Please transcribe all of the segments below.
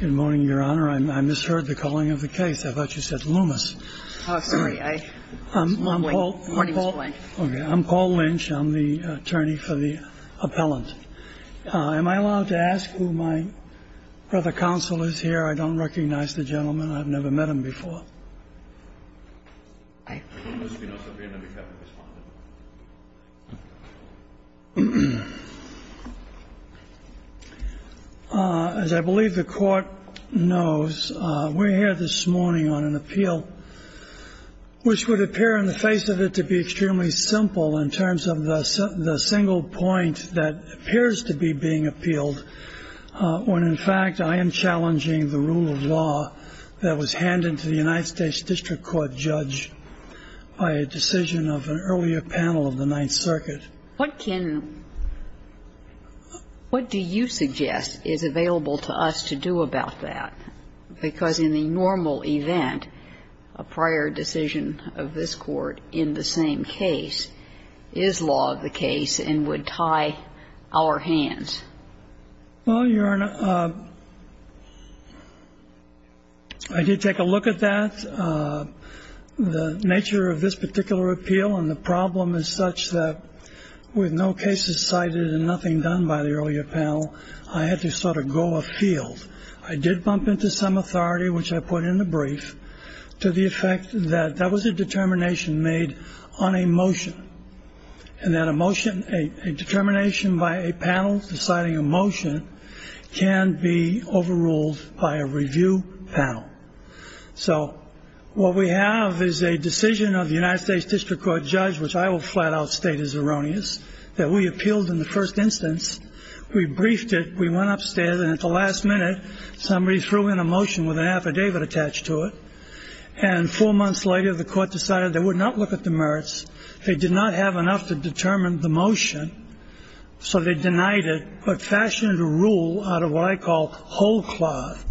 Good morning, Your Honor. I misheard the calling of the case. I thought you said Loomis. Oh, sorry. Morning, Mr. Blank. I'm Paul Lynch. I'm the attorney for the appellant. Am I allowed to ask who my brother counsel is here? I don't recognize the gentleman. I've never met him before. As I believe the court knows, we're here this morning on an appeal, which would appear in the face of it to be extremely simple in terms of the single point that appears to be being appealed. When, in fact, I am challenging the rule of law that was handed to the United States District Court judge by a decision of an earlier panel of the Ninth Circuit. What can – what do you suggest is available to us to do about that? Because in the normal event, a prior decision of this Court in the same case is law of the case and would tie our hands. Well, Your Honor, I did take a look at that. The nature of this particular appeal and the problem is such that with no cases cited and nothing done by the earlier panel, I had to sort of go afield. I did bump into some authority, which I put in the brief, to the effect that that was a determination made on a motion and that a motion – a determination by a panel deciding a motion can be overruled by a review panel. So what we have is a decision of the United States District Court judge, which I will flat out state is erroneous, that we appealed in the first instance. We briefed it. We went upstairs, and at the last minute, somebody threw in a motion with an affidavit attached to it. And four months later, the Court decided they would not look at the merits. They did not have enough to determine the motion, so they denied it but fashioned a rule out of what I call whole cloth,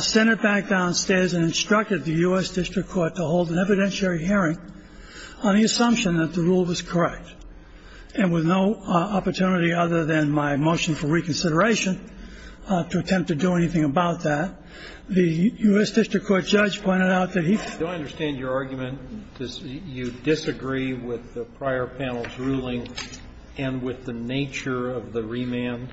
sent it back downstairs and instructed the U.S. District Court to hold an evidentiary hearing on the assumption that the rule was correct and with no opportunity other than my motion for reconsideration to attempt to do anything about that. The U.S. District Court judge pointed out that he – Do I understand your argument? You disagree with the prior panel's ruling and with the nature of the remand?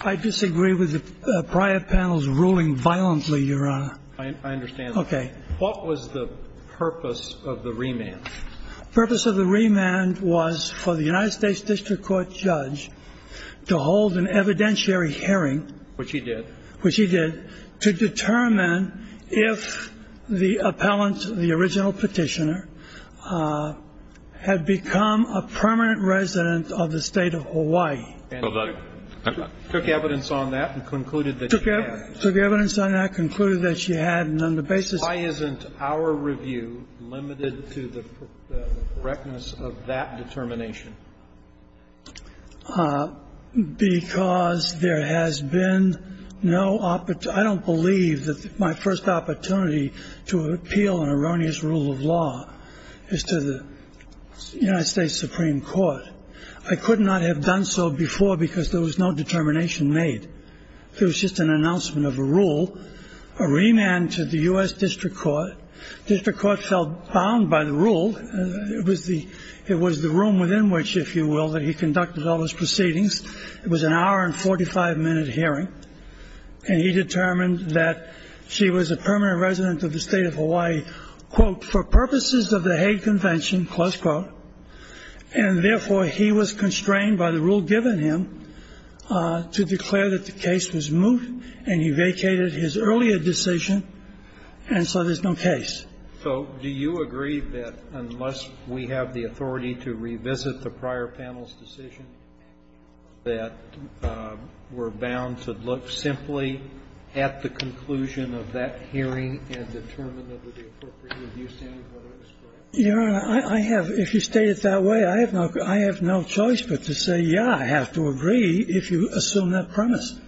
I disagree with the prior panel's ruling violently, Your Honor. I understand that. Okay. What was the purpose of the remand? The purpose of the remand was for the United States District Court judge to hold an evidentiary hearing. Which he did. Which he did, to determine if the appellant, the original Petitioner, had become a permanent resident of the State of Hawaii. And took evidence on that and concluded that she had. Took evidence on that, concluded that she had. Why isn't our review limited to the correctness of that determination? Because there has been no – I don't believe that my first opportunity to appeal an erroneous rule of law is to the United States Supreme Court. I could not have done so before because there was no determination made. It was just an announcement of a rule, a remand to the U.S. District Court. District Court felt bound by the rule. It was the room within which, if you will, that he conducted all his proceedings. It was an hour and 45-minute hearing. And he determined that she was a permanent resident of the State of Hawaii, quote, for purposes of the Hague Convention, close quote. And, therefore, he was constrained by the rule given him to declare that the case was moot, and he vacated his earlier decision, and so there's no case. So do you agree that unless we have the authority to revisit the prior panel's decision that we're bound to look simply at the conclusion of that hearing and determine that it would be appropriate? Your Honor, I have, if you state it that way, I have no choice but to say, yeah, I have to agree if you assume that premise.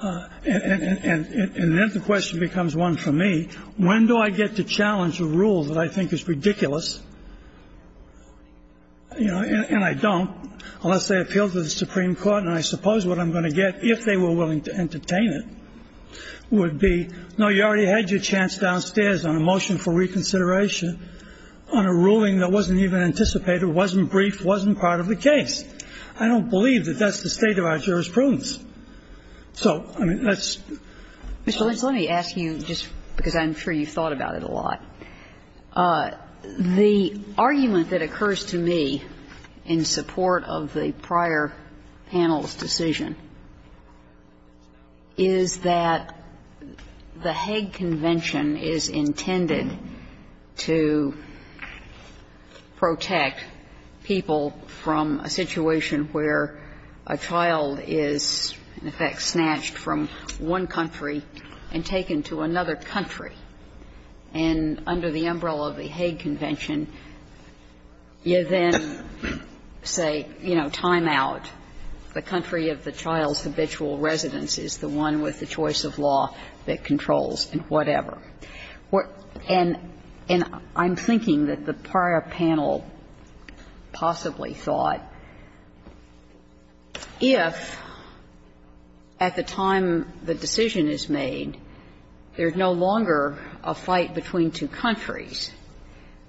And then the question becomes one for me. When do I get to challenge a rule that I think is ridiculous, you know, and I don't unless they appeal to the Supreme Court, and I suppose what I'm going to get if they were willing to entertain it would be, no, you already had your chance downstairs on a motion for reconsideration on a ruling that wasn't even anticipated, wasn't brief, wasn't part of the case. I don't believe that that's the state of our jurisprudence. So, I mean, let's go. Mr. Lynch, let me ask you just because I'm sure you've thought about it a lot. The argument that occurs to me in support of the prior panel's decision is that the Hague Convention is intended to protect people from a situation where a child is, in effect, snatched from one country and taken to another country. And under the umbrella of the Hague Convention, you then say, you know, time out. The country of the child's habitual residence is the one with the choice of law that controls and whatever. And I'm thinking that the prior panel possibly thought if at the time the decision is made, there's no longer a fight between two countries,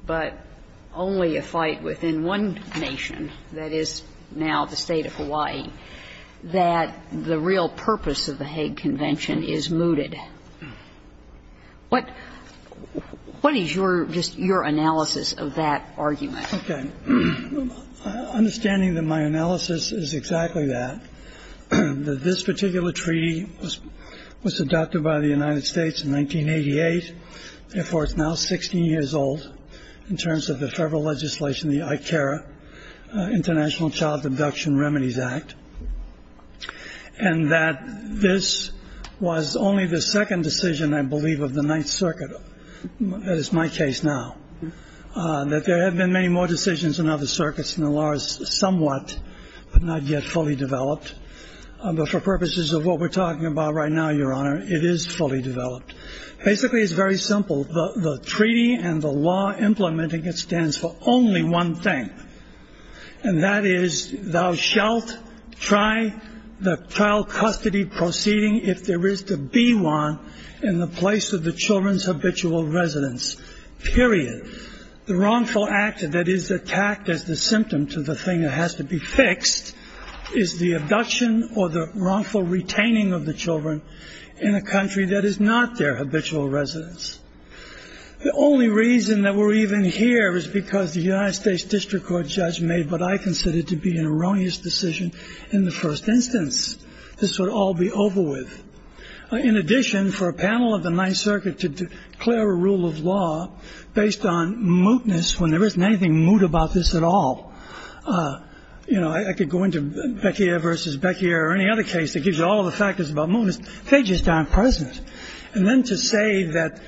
but only a fight within one nation, that is now the State of Hawaii, that the real purpose of the Hague Convention is mooted. What is your analysis of that argument? Okay. Understanding that my analysis is exactly that, that this particular treaty was adopted by the United States in 1988, and, therefore, it's now 60 years old in terms of the federal legislation, the ICARA, International Child Abduction Remedies Act. And that this was only the second decision, I believe, of the Ninth Circuit. That is my case now. That there have been many more decisions in other circuits, and the law is somewhat, but not yet fully developed. But for purposes of what we're talking about right now, Your Honor, it is fully developed. Basically, it's very simple. The treaty and the law implementing it stands for only one thing, and that is thou shalt try the trial custody proceeding if there is to be one in the place of the children's habitual residence, period. The wrongful act that is attacked as the symptom to the thing that has to be fixed is the habitual residence. The only reason that we're even here is because the United States District Court judge made what I consider to be an erroneous decision in the first instance. This would all be over with. In addition, for a panel of the Ninth Circuit to declare a rule of law based on mootness when there isn't anything moot about this at all, you know, I could go into Becquier versus Becquier or any other case that gives you all the factors about mootness. They just aren't present. And then to say that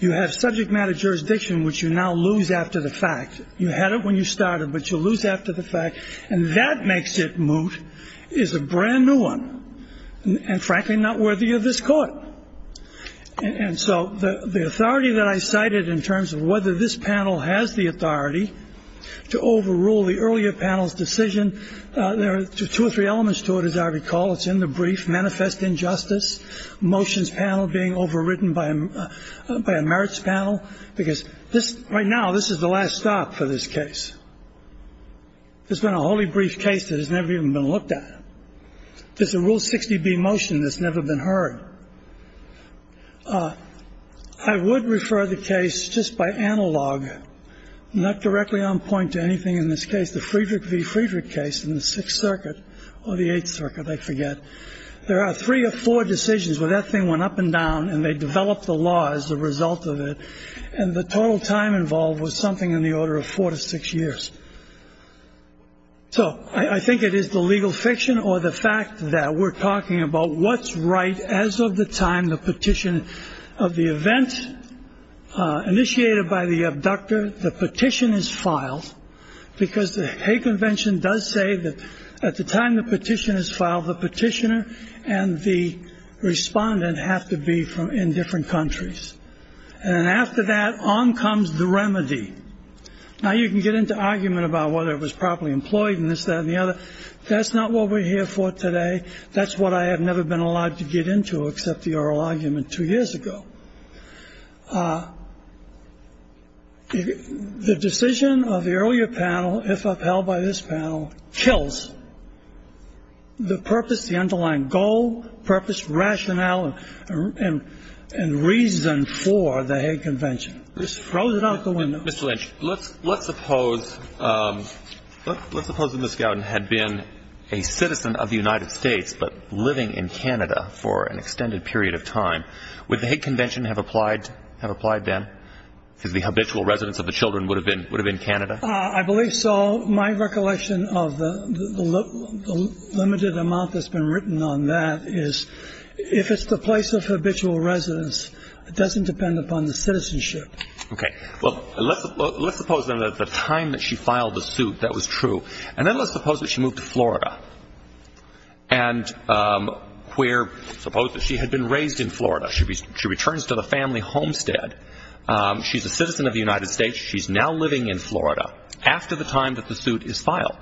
you have subject matter jurisdiction, which you now lose after the fact, you had it when you started, but you lose after the fact, and that makes it moot, is a brand-new one and, frankly, not worthy of this Court. And so the authority that I cited in terms of whether this panel has the authority to overrule the earlier panel's decision, there are two or three elements to it, as I recall. It's in the brief, manifest injustice, motions panel being overridden by a merits panel, because this right now, this is the last stop for this case. There's been a wholly brief case that has never even been looked at. There's a Rule 60B motion that's never been heard. I would refer the case just by analog, not directly on point to anything in this case, the Friedrich v. Friedrich case in the Sixth Circuit or the Eighth Circuit, I forget. There are three or four decisions where that thing went up and down, and they developed the law as a result of it, and the total time involved was something in the order of four to six years. So I think it is the legal fiction or the fact that we're talking about what's right. As of the time the petition of the event initiated by the abductor, the petition is filed because the convention does say that at the time the petition is filed, the petitioner and the respondent have to be from in different countries. And after that, on comes the remedy. Now, you can get into argument about whether it was properly employed and this, that and the other. That's not what we're here for today. That's what I have never been allowed to get into except the oral argument two years ago. The decision of the earlier panel, if upheld by this panel, kills the purpose, the underlying goal, purpose, rationale and reason for the Hague Convention. It's frozen out the window. Mr. Lynch, let's suppose that Ms. Gowden had been a citizen of the United States but living in Canada for an extended period of time. Would the Hague Convention have applied then? Because the habitual residence of the children would have been Canada. I believe so. My recollection of the limited amount that's been written on that is if it's the place of habitual residence, it doesn't depend upon the citizenship. Okay. Well, let's suppose that at the time that she filed the suit that was true. And then let's suppose that she moved to Florida. And where, suppose that she had been raised in Florida. She returns to the family homestead. She's a citizen of the United States. She's now living in Florida. After the time that the suit is filed,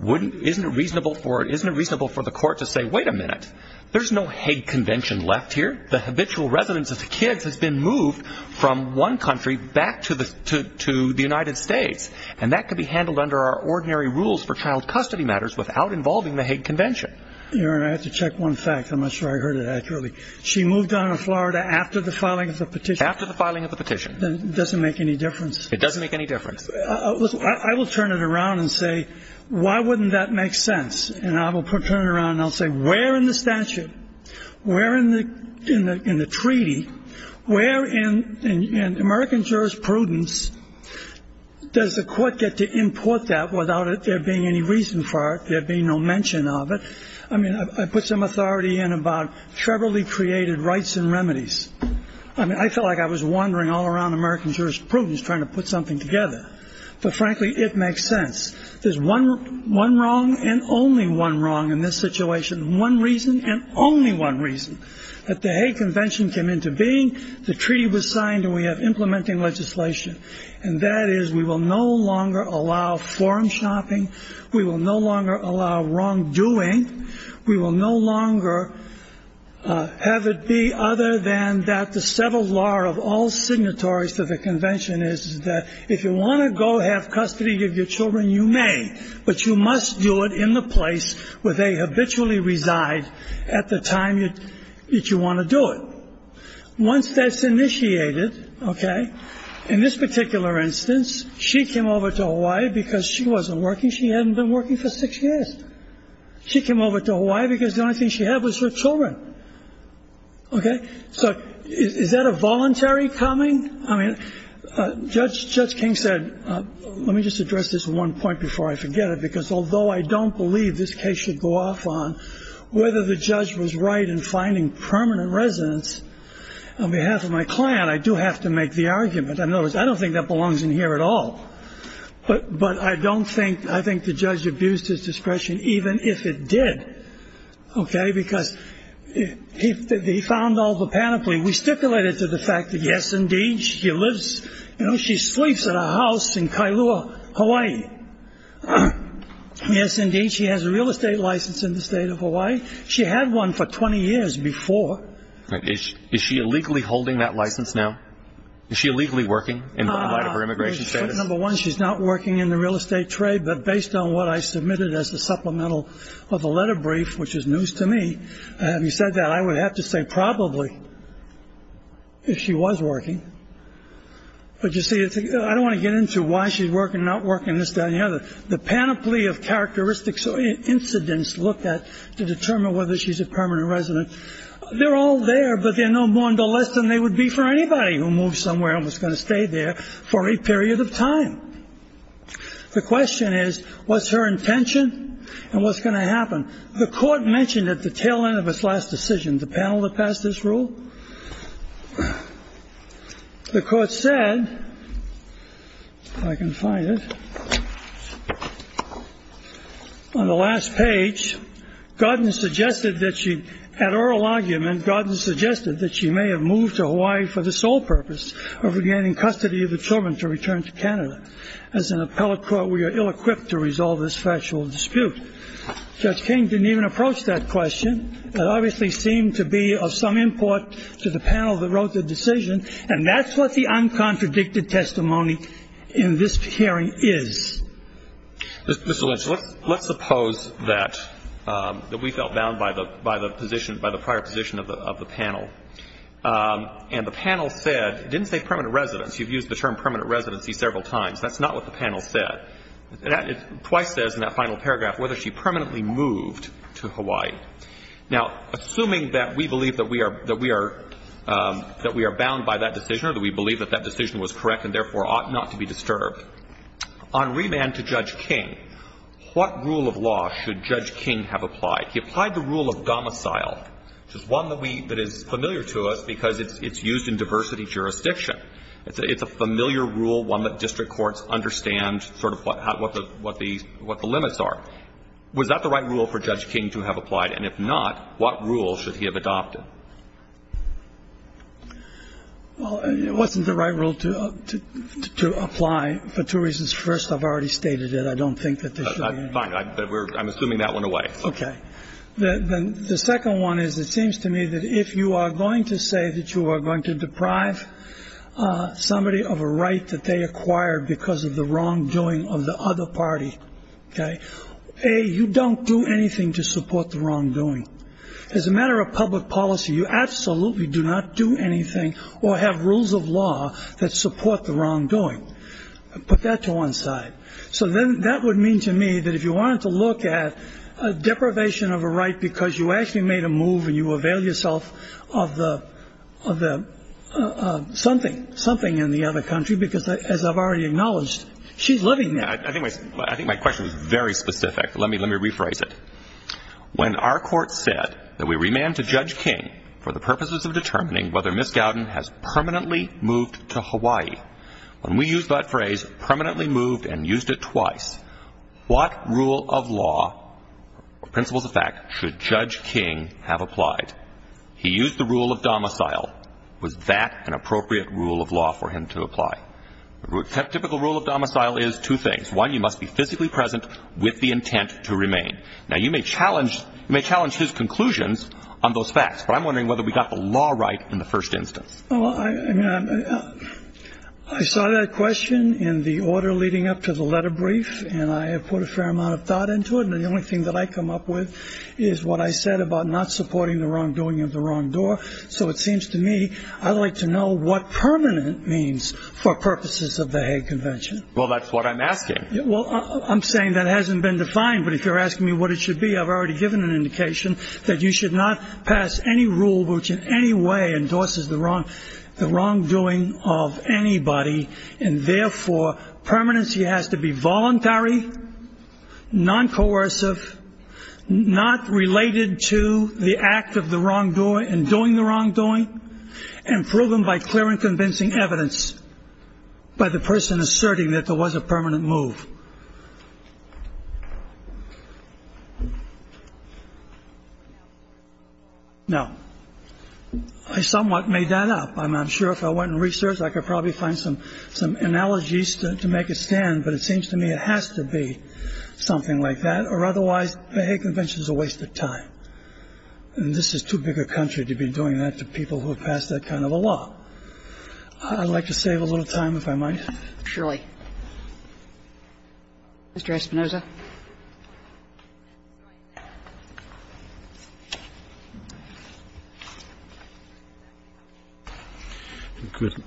isn't it reasonable for the court to say, wait a minute, there's no Hague Convention left here. The habitual residence of the kids has been moved from one country back to the United States. And that could be handled under our ordinary rules for child custody matters without involving the Hague Convention. Your Honor, I have to check one fact. I'm not sure I heard it accurately. She moved on to Florida after the filing of the petition. After the filing of the petition. It doesn't make any difference. It doesn't make any difference. I will turn it around and say, why wouldn't that make sense? And I will turn it around and I'll say, where in the statute, where in the treaty, where in American jurisprudence does the court get to import that without there being any reason for it, there being no mention of it? I mean, I put some authority in about trebly created rights and remedies. I mean, I felt like I was wandering all around American jurisprudence trying to put something together. But frankly, it makes sense. There's one wrong and only one wrong in this situation. One reason and only one reason that the Hague Convention came into being. The treaty was signed and we have implementing legislation. And that is we will no longer allow forum shopping. We will no longer allow wrongdoing. We will no longer have it be other than that. The settled law of all signatories to the convention is that if you want to go have custody of your children, you may. But you must do it in the place where they habitually reside at the time that you want to do it. Once that's initiated. OK. In this particular instance, she came over to Hawaii because she wasn't working. She hadn't been working for six years. She came over to Hawaii because the only thing she had was her children. OK. So is that a voluntary coming? I mean, Judge King said, let me just address this one point before I forget it. Because although I don't believe this case should go off on whether the judge was right in finding permanent residence on behalf of my client, I do have to make the argument. In other words, I don't think that belongs in here at all. But I don't think I think the judge abused his discretion, even if it did. OK. Because he found all the panoply. We stipulated to the fact that, yes, indeed, she lives. You know, she sleeps at a house in Kailua, Hawaii. Yes, indeed. She has a real estate license in the state of Hawaii. She had one for 20 years before. Is she illegally holding that license now? Is she illegally working in light of her immigration status? Number one, she's not working in the real estate trade. But based on what I submitted as a supplemental of a letter brief, which is news to me, have you said that I would have to say probably if she was working. But you see, I don't want to get into why she's working, not working this down here. The panoply of characteristics or incidents looked at to determine whether she's a permanent resident. They're all there, but they're no more or less than they would be for anybody who moved somewhere and was going to stay there for a period of time. The question is, what's her intention and what's going to happen? The court mentioned at the tail end of its last decision, the panel that passed this rule. The court said, if I can find it, on the last page, Gordon suggested that she had oral argument. Gordon suggested that she may have moved to Hawaii for the sole purpose of regaining custody of the children to return to Canada. As an appellate court, we are ill-equipped to resolve this factual dispute. Judge King didn't even approach that question. It obviously seemed to be of some import to the panel that wrote the decision. And that's what the uncontradicted testimony in this hearing is. Mr. Lynch, let's suppose that we felt bound by the position, by the prior position of the panel. And the panel said, didn't say permanent residence. You've used the term permanent residency several times. That's not what the panel said. Twice says in that final paragraph whether she permanently moved to Hawaii. Now, assuming that we believe that we are bound by that decision or that we believe that that decision was correct and therefore ought not to be disturbed, on remand to Judge King, what rule of law should Judge King have applied? He applied the rule of domicile, which is one that we – that is familiar to us because it's used in diversity jurisdiction. It's a familiar rule, one that district courts understand sort of what the – what the limits are. Was that the right rule for Judge King to have applied? And if not, what rule should he have adopted? Well, it wasn't the right rule to apply for two reasons. First, I've already stated it. I don't think that this should be used. I'm assuming that went away. Okay. The second one is it seems to me that if you are going to say that you are going to deprive somebody of a right that they acquired because of the wrongdoing of the other party, okay, A, you don't do anything to support the wrongdoing. As a matter of public policy, you absolutely do not do anything or have rules of law that support the wrongdoing. Put that to one side. So then that would mean to me that if you wanted to look at deprivation of a right because you actually made a move and you avail yourself of the – of the something, something in the other country because, as I've already acknowledged, she's living there. I think my question is very specific. Let me rephrase it. When our court said that we remand to Judge King for the purposes of determining whether Ms. Gowden has permanently moved to Hawaii, when we use that phrase, permanently moved and used it twice, what rule of law, principles of fact, should Judge King have applied? He used the rule of domicile. Was that an appropriate rule of law for him to apply? A typical rule of domicile is two things. One, you must be physically present with the intent to remain. Now, you may challenge – you may challenge his conclusions on those facts, but I'm wondering whether we got the law right in the first instance. Well, I mean, I saw that question in the order leading up to the letter brief, and I have put a fair amount of thought into it, and the only thing that I come up with is what I said about not supporting the wrongdoing of the wrong door, so it seems to me I'd like to know what permanent means for purposes of the Hague Convention. Well, that's what I'm asking. Well, I'm saying that hasn't been defined, but if you're asking me what it should be, I've already given an indication that you should not pass any rule which in any way endorses the wrongdoing of anybody, and therefore permanency has to be voluntary, non-coercive, not related to the act of the wrongdoing and doing the wrongdoing, and proven by clear and convincing evidence by the person asserting that there was a permanent move. Now, I somewhat made that up. I'm not sure if I went and researched. I could probably find some analogies to make it stand, but it seems to me it has to be something like that, or otherwise the Hague Convention is a waste of time, and this is too big a country to be doing that to people who have passed that kind of a law. I'd like to save a little time if I might. Surely. Mr. Espinoza. Espinoza.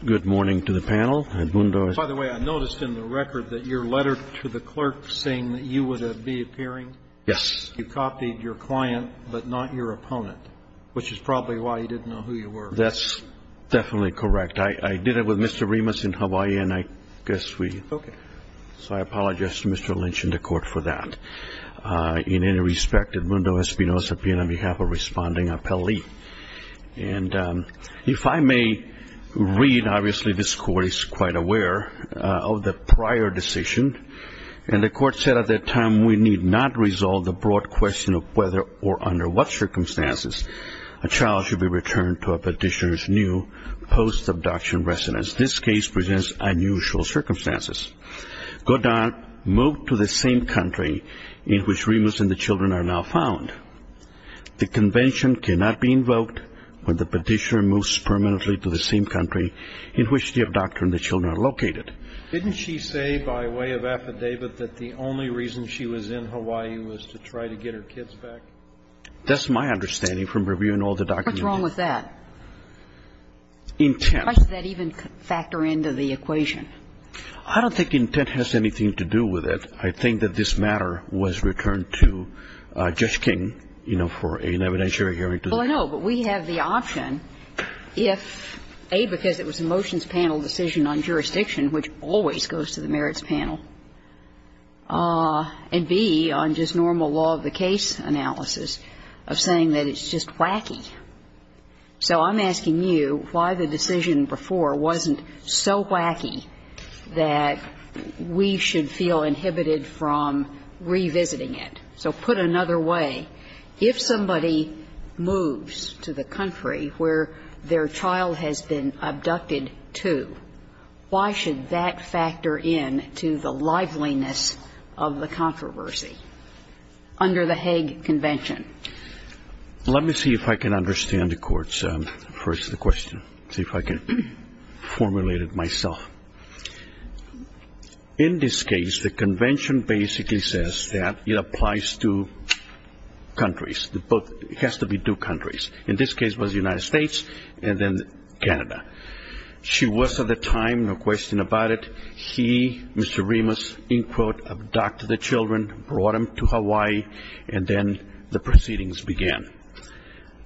Good morning to the panel. By the way, I noticed in the record that your letter to the clerk saying that you would be appearing, you copied your client but not your opponent, which is probably why you didn't know who you were. That's definitely correct. I did it with Mr. Remus in Hawaii, and I guess we ---- Okay. So I apologize to Mr. Lynch and the Court for that. In any respect, Edmundo Espinoza, being on behalf of responding, I'll leave. And if I may read, obviously this Court is quite aware of the prior decision, and the Court said at that time, we need not resolve the broad question of whether or under what circumstances a child should be returned to a petitioner's new post-abduction residence. This case presents unusual circumstances. Godard moved to the same country in which Remus and the children are now found. The convention cannot be invoked when the petitioner moves permanently to the same country in which the abductor and the children are located. Didn't she say by way of affidavit that the only reason she was in Hawaii was to try to get her kids back? That's my understanding from reviewing all the documents. What's wrong with that? Intent. How does that even factor into the equation? I don't think intent has anything to do with it. I think that this matter was returned to Judge King, you know, for an evidentiary hearing. Well, I know, but we have the option if, A, because it was a motions panel decision on jurisdiction, which always goes to the merits panel, and, B, on just normal law of the case analysis of saying that it's just wacky. So I'm asking you why the decision before wasn't so wacky that we should feel inhibited from revisiting it. So put another way. If somebody moves to the country where their child has been abducted to, why should that factor in to the liveliness of the controversy under the Hague Convention? Let me see if I can understand the court's first question, see if I can formulate it myself. In this case, the convention basically says that it applies to countries, but it has to be two countries. In this case, it was the United States and then Canada. She was at the time, no question about it. He, Mr. Remus, in quote, abducted the children, brought them to Hawaii, and then the proceedings began.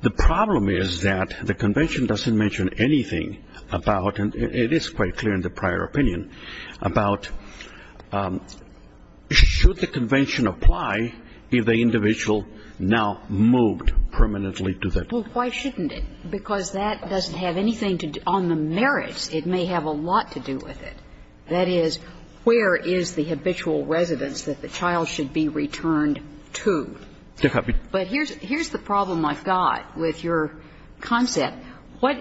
The problem is that the convention doesn't mention anything about, and it is quite clear in the prior opinion, about should the convention apply if the individual now moved permanently to the country? Well, why shouldn't it? Because that doesn't have anything to do on the merits. It may have a lot to do with it. That is, where is the habitual residence that the child should be returned to? But here's the problem I've got with your concept. What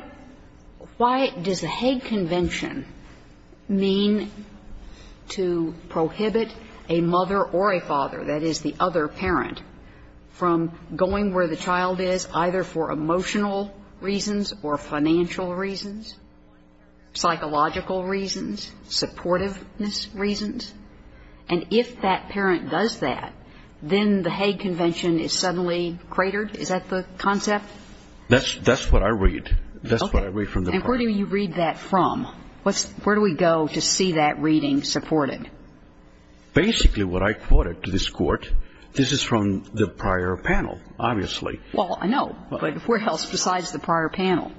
why does the Hague Convention mean to prohibit a mother or a father, that is, the other parent, from going where the child is either for emotional reasons or financial reasons, psychological reasons, supportiveness reasons? And if that parent does that, then the Hague Convention is suddenly cratered? Is that the concept? That's what I read. That's what I read from the court. Okay. And where do you read that from? Where do we go to see that reading supported? Basically what I quoted to this Court, this is from the prior panel, obviously. Well, I know. But where else besides the prior panel,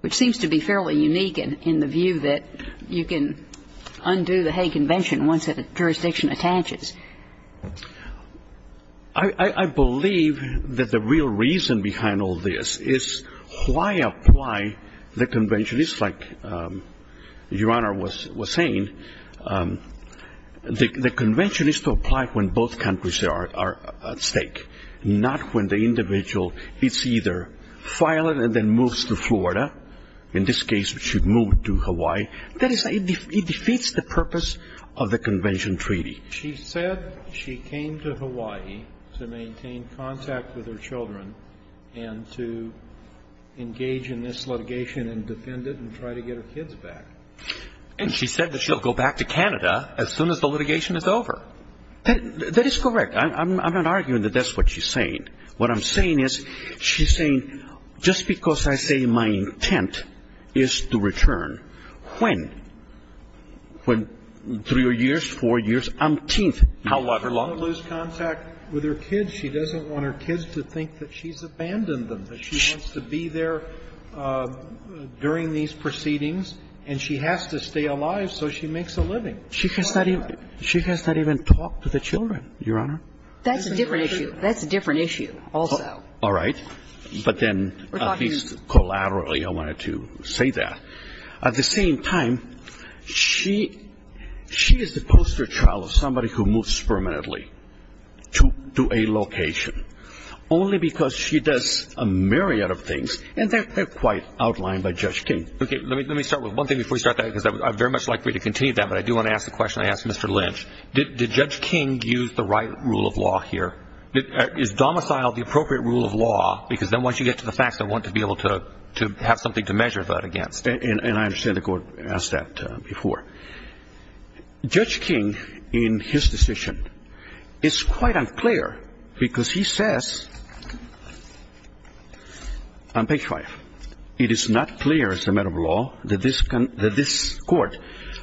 which seems to be fairly unique in the view that you can undo the Hague Convention once a jurisdiction attaches? I believe that the real reason behind all this is why apply the convention. At least like Your Honor was saying, the convention is to apply when both countries are at stake, not when the individual is either filing and then moves to Florida. In this case, she moved to Hawaii. That is, it defeats the purpose of the convention treaty. She said she came to Hawaii to maintain contact with her children and to engage in this litigation and defend it and try to get her kids back. And she said that she'll go back to Canada as soon as the litigation is over. That is correct. I'm not arguing that that's what she's saying. What I'm saying is she's saying just because I say my intent is to return, when? When? Three years, four years, umpteenth? However long. She doesn't want to lose contact with her kids. She doesn't want her kids to think that she's abandoned them, that she wants to be there during these proceedings, and she has to stay alive so she makes a living. She has not even talked to the children, Your Honor. That's a different issue. That's a different issue also. All right. But then, at least collaterally, I wanted to say that. At the same time, she is the poster child of somebody who moves permanently to a location, only because she does a myriad of things, and they're quite outlined by Judge King. Okay. Let me start with one thing before we start that, because I'd very much like for you to continue that, but I do want to ask the question I asked Mr. Lynch. Did Judge King use the right rule of law here? Is domicile the appropriate rule of law? Because then once you get to the facts, I want to be able to have something to measure that against. And I understand the Court asked that before. Judge King, in his decision, is quite unclear, because he says on page 5, it is not clear as a matter of law that this Court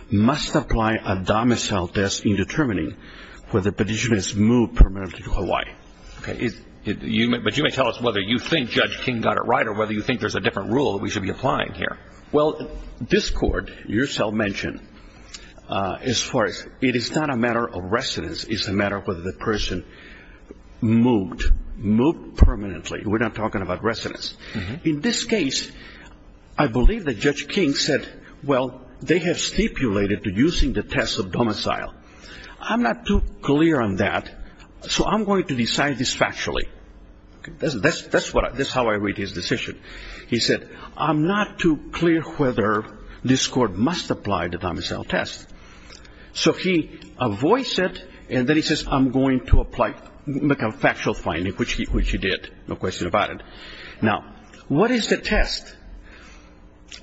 must apply a domicile test in determining whether the petitioner is moved permanently to Hawaii. But you may tell us whether you think Judge King got it right or whether you think there's a different rule that we should be applying here. Well, this Court, you yourself mentioned, as far as it is not a matter of residence, it's a matter of whether the person moved, moved permanently. We're not talking about residence. In this case, I believe that Judge King said, well, they have stipulated using the test of domicile. I'm not too clear on that, so I'm going to decide this factually. That's how I read his decision. He said, I'm not too clear whether this Court must apply the domicile test. So he avoids it, and then he says, I'm going to make a factual finding, which he did. No question about it. Now, what is the test?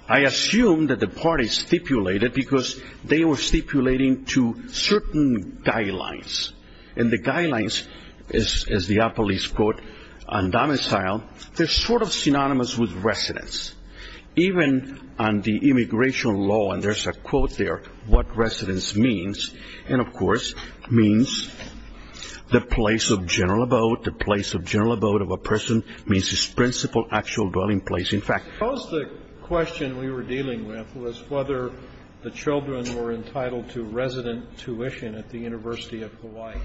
I assume that the parties stipulated because they were stipulating to certain guidelines. And the guidelines, as the appellees quote, on domicile, they're sort of synonymous with residence. Even on the immigration law, and there's a quote there, what residence means, and, of course, means the place of general abode. The place of general abode of a person means its principal actual dwelling place. In fact, the question we were dealing with was whether the children were entitled to resident tuition at the University of Hawaii,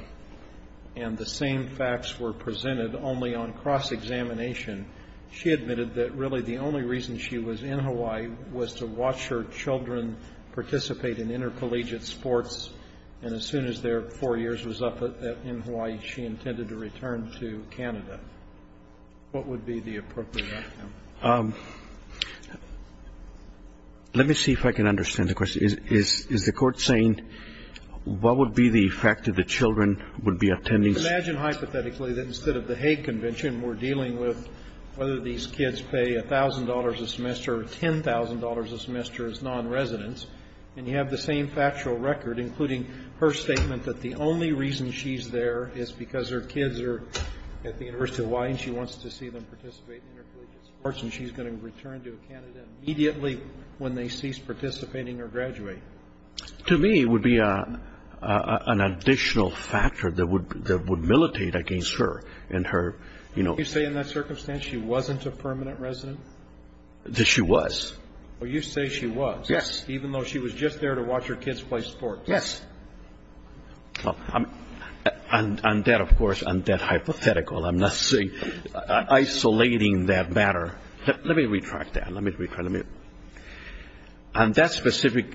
and the same facts were presented only on cross-examination. She admitted that really the only reason she was in Hawaii was to watch her children participate in intercollegiate sports, and as soon as their 4 years was up in Hawaii, she intended to return to Canada. What would be the appropriate outcome? Let me see if I can understand the question. Is the Court saying what would be the effect if the children would be attending some of the courses? Imagine hypothetically that instead of the Hague Convention, we're dealing with whether these kids pay $1,000 a semester or $10,000 a semester as nonresidents, and you have the same factual record, including her statement that the only reason she's there is because her kids are at the University of Hawaii and she wants to see them participate in intercollegiate sports and she's going to return to Canada immediately when they cease participating or graduate. To me, it would be an additional factor that would militate against her. Would you say in that circumstance she wasn't a permanent resident? That she was. Well, you say she was. Yes. Even though she was just there to watch her kids play sports. Yes. On that, of course, on that hypothetical, I'm not isolating that matter. Let me retract that. On that specific,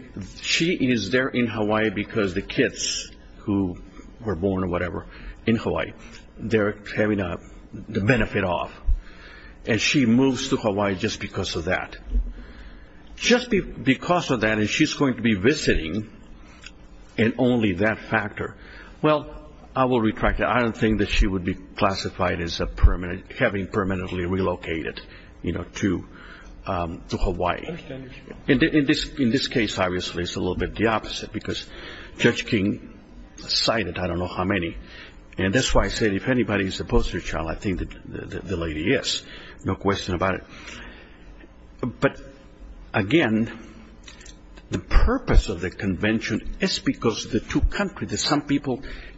she is there in Hawaii because the kids who were born or whatever in Hawaii, they're having the benefit of, and she moves to Hawaii just because of that. Just because of that, and she's going to be visiting and only that factor. Well, I will retract that. I don't think that she would be classified as having permanently relocated to Hawaii. In this case, obviously, it's a little bit the opposite because Judge King cited I don't know how many. And that's why I said if anybody is opposed to your child, I think that the lady is. No question about it. But again, the purpose of the convention is because the two countries,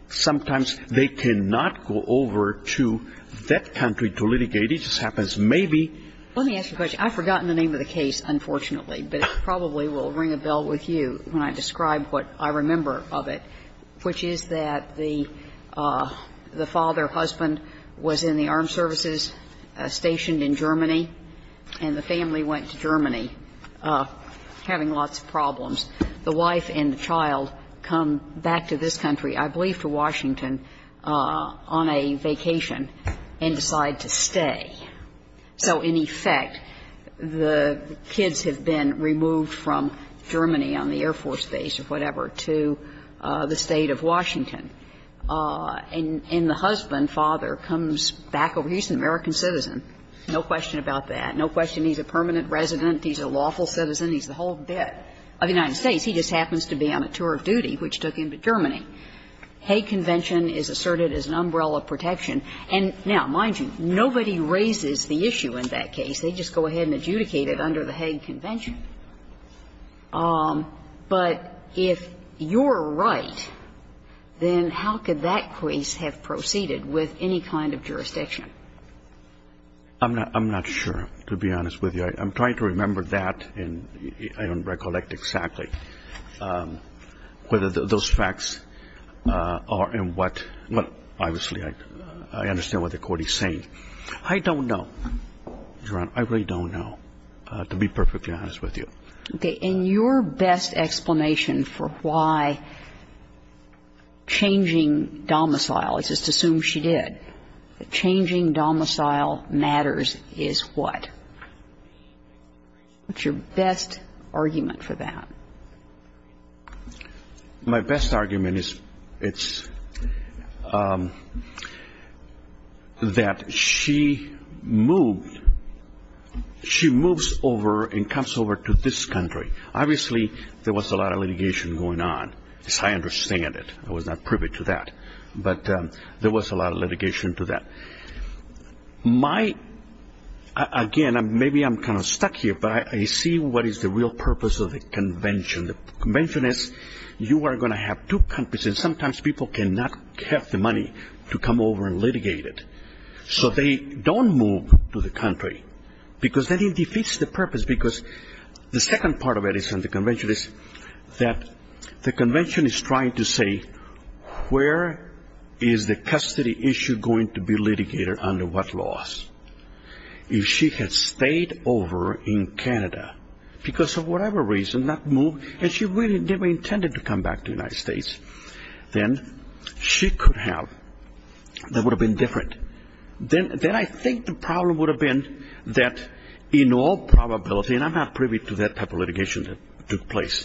sometimes they cannot go over to that country to litigate. It just happens maybe. Let me ask you a question. I've forgotten the name of the case, unfortunately. But it probably will ring a bell with you when I describe what I remember of it, which is that the father or husband was in the armed services stationed in Germany, and the family went to Germany having lots of problems. The wife and the child come back to this country, I believe to Washington, on a vacation and decide to stay. So in effect, the kids have been removed from Germany on the Air Force Base or whatever to the State of Washington. And the husband, father, comes back over. He's an American citizen. No question about that. No question he's a permanent resident. He's a lawful citizen. He's the whole bit of the United States. He just happens to be on a tour of duty, which took him to Germany. Hague Convention is asserted as an umbrella protection. And now, mind you, nobody raises the issue in that case. They just go ahead and adjudicate it under the Hague Convention. But if you're right, then how could that case have proceeded with any kind of jurisdiction? I'm not sure, to be honest with you. I'm trying to remember that, and I don't recollect exactly whether those facts are in what ñ well, obviously, I understand what the Court is saying. I don't know, Your Honor. I really don't know, to be perfectly honest with you. Okay. In your best explanation for why changing domicile, let's just assume she did, changing domicile matters is what? What's your best argument for that? My best argument is that she moved, she moves over and comes over to this country. Obviously, there was a lot of litigation going on, as I understand it. I was not privy to that. But there was a lot of litigation to that. My ñ again, maybe I'm kind of stuck here, but I see what is the real purpose of the convention. The convention is you are going to have two countries, and sometimes people cannot have the money to come over and litigate it. So they don't move to the country because then it defeats the purpose because the second part of it is in the convention is that the convention is trying to say where is the custody issue going to be litigated under what laws? If she had stayed over in Canada because of whatever reason, not moved, and she really never intended to come back to the United States, then she could have, that would have been different. Then I think the problem would have been that in all probability, and I'm not privy to that type of litigation that took place,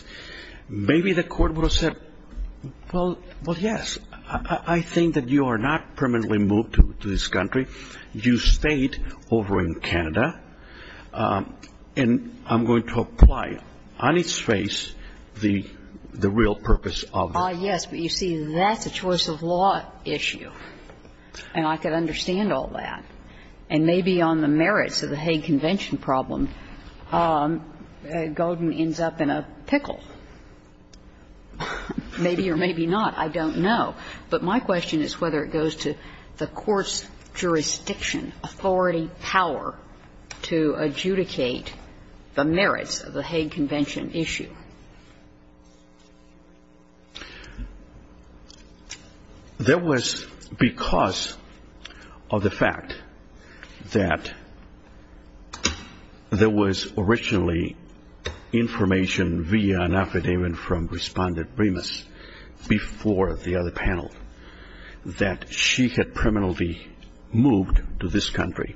maybe the Court would have said, well, yes. I think that you are not permanently moved to this country. You stayed over in Canada, and I'm going to apply on its face the real purpose of the convention. Yes, but you see, that's a choice of law issue, and I can understand all that. And maybe on the merits of the Hague Convention problem, Golden ends up in a pickle. Maybe or maybe not, I don't know. But my question is whether it goes to the Court's jurisdiction, authority, power to adjudicate the merits of the Hague Convention issue. There was, because of the fact that there was originally information via an affidavit from Respondent Remus before the other panel that she had permanently moved to this country,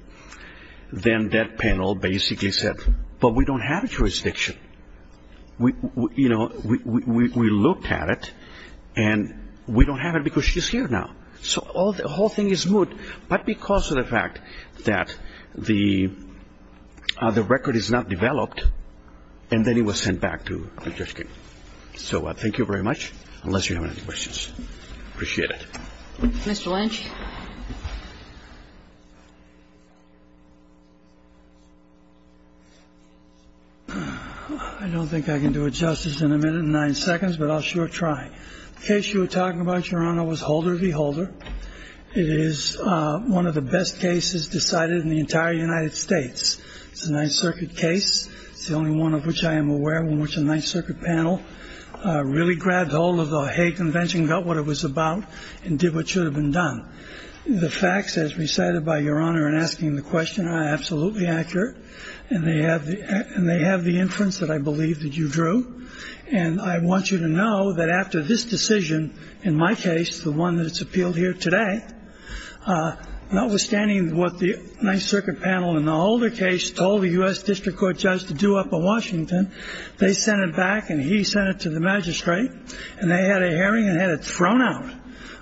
then that panel basically said, but we don't have a jurisdiction. We looked at it, and we don't have it because she's here now. So the whole thing is good, but because of the fact that the record is not developed, and then it was sent back to the jurisdiction. So thank you very much, unless you have any questions. Appreciate it. Mr. Lynch. I don't think I can do it justice in a minute and nine seconds, but I'll sure try. The case you were talking about, Your Honor, was Holder v. Holder. It is one of the best cases decided in the entire United States. It's a Ninth Circuit case. It's the only one of which I am aware in which a Ninth Circuit panel really grabbed all of the Hague Convention, got what it was about, and did what should have been done. The facts, as recited by Your Honor in asking the question, are absolutely accurate, and they have the inference that I believe that you drew. And I want you to know that after this decision, in my case, the one that's appealed here today, notwithstanding what the Ninth Circuit panel in the Holder case told the U.S. District Court judge to do up a Washington, they sent it back and he sent it to the magistrate, and they had a hearing and had it thrown out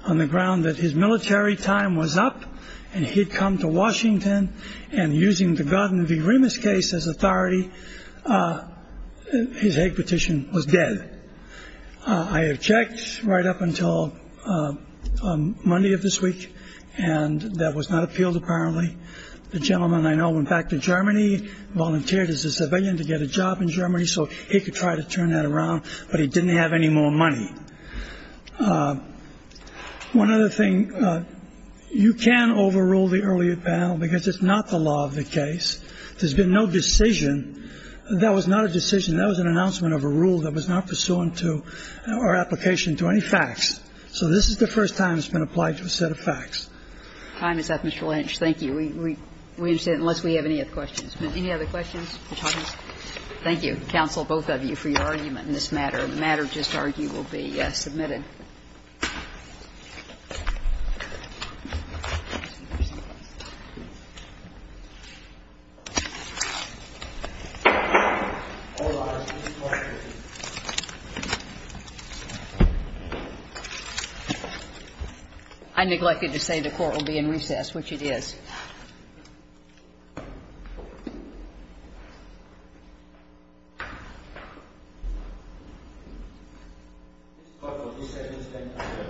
on the ground that his military time was up and he'd come to Washington and using the Godden v. Remus case as authority, his Hague petition was dead. I have checked right up until Monday of this week, and that was not appealed, apparently. The gentleman I know went back to Germany, volunteered as a civilian to get a job in Germany so he could try to turn that around, but he didn't have any more money. One other thing. You can overrule the earlier panel because it's not the law of the case. There's been no decision. That was not a decision. That was an announcement of a rule that was not pursuant to our application to any facts. The time is up, Mr. Lynch. Thank you. We understand, unless we have any other questions. Any other questions or comments? Thank you, counsel, both of you, for your argument in this matter. The matter just argued will be submitted. I neglected to say the court will be in recess, which it is. Thank you. Thank you. Thank you. Thank you. Thank you. Thank you. Thank you.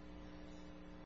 Thank you. Thank you.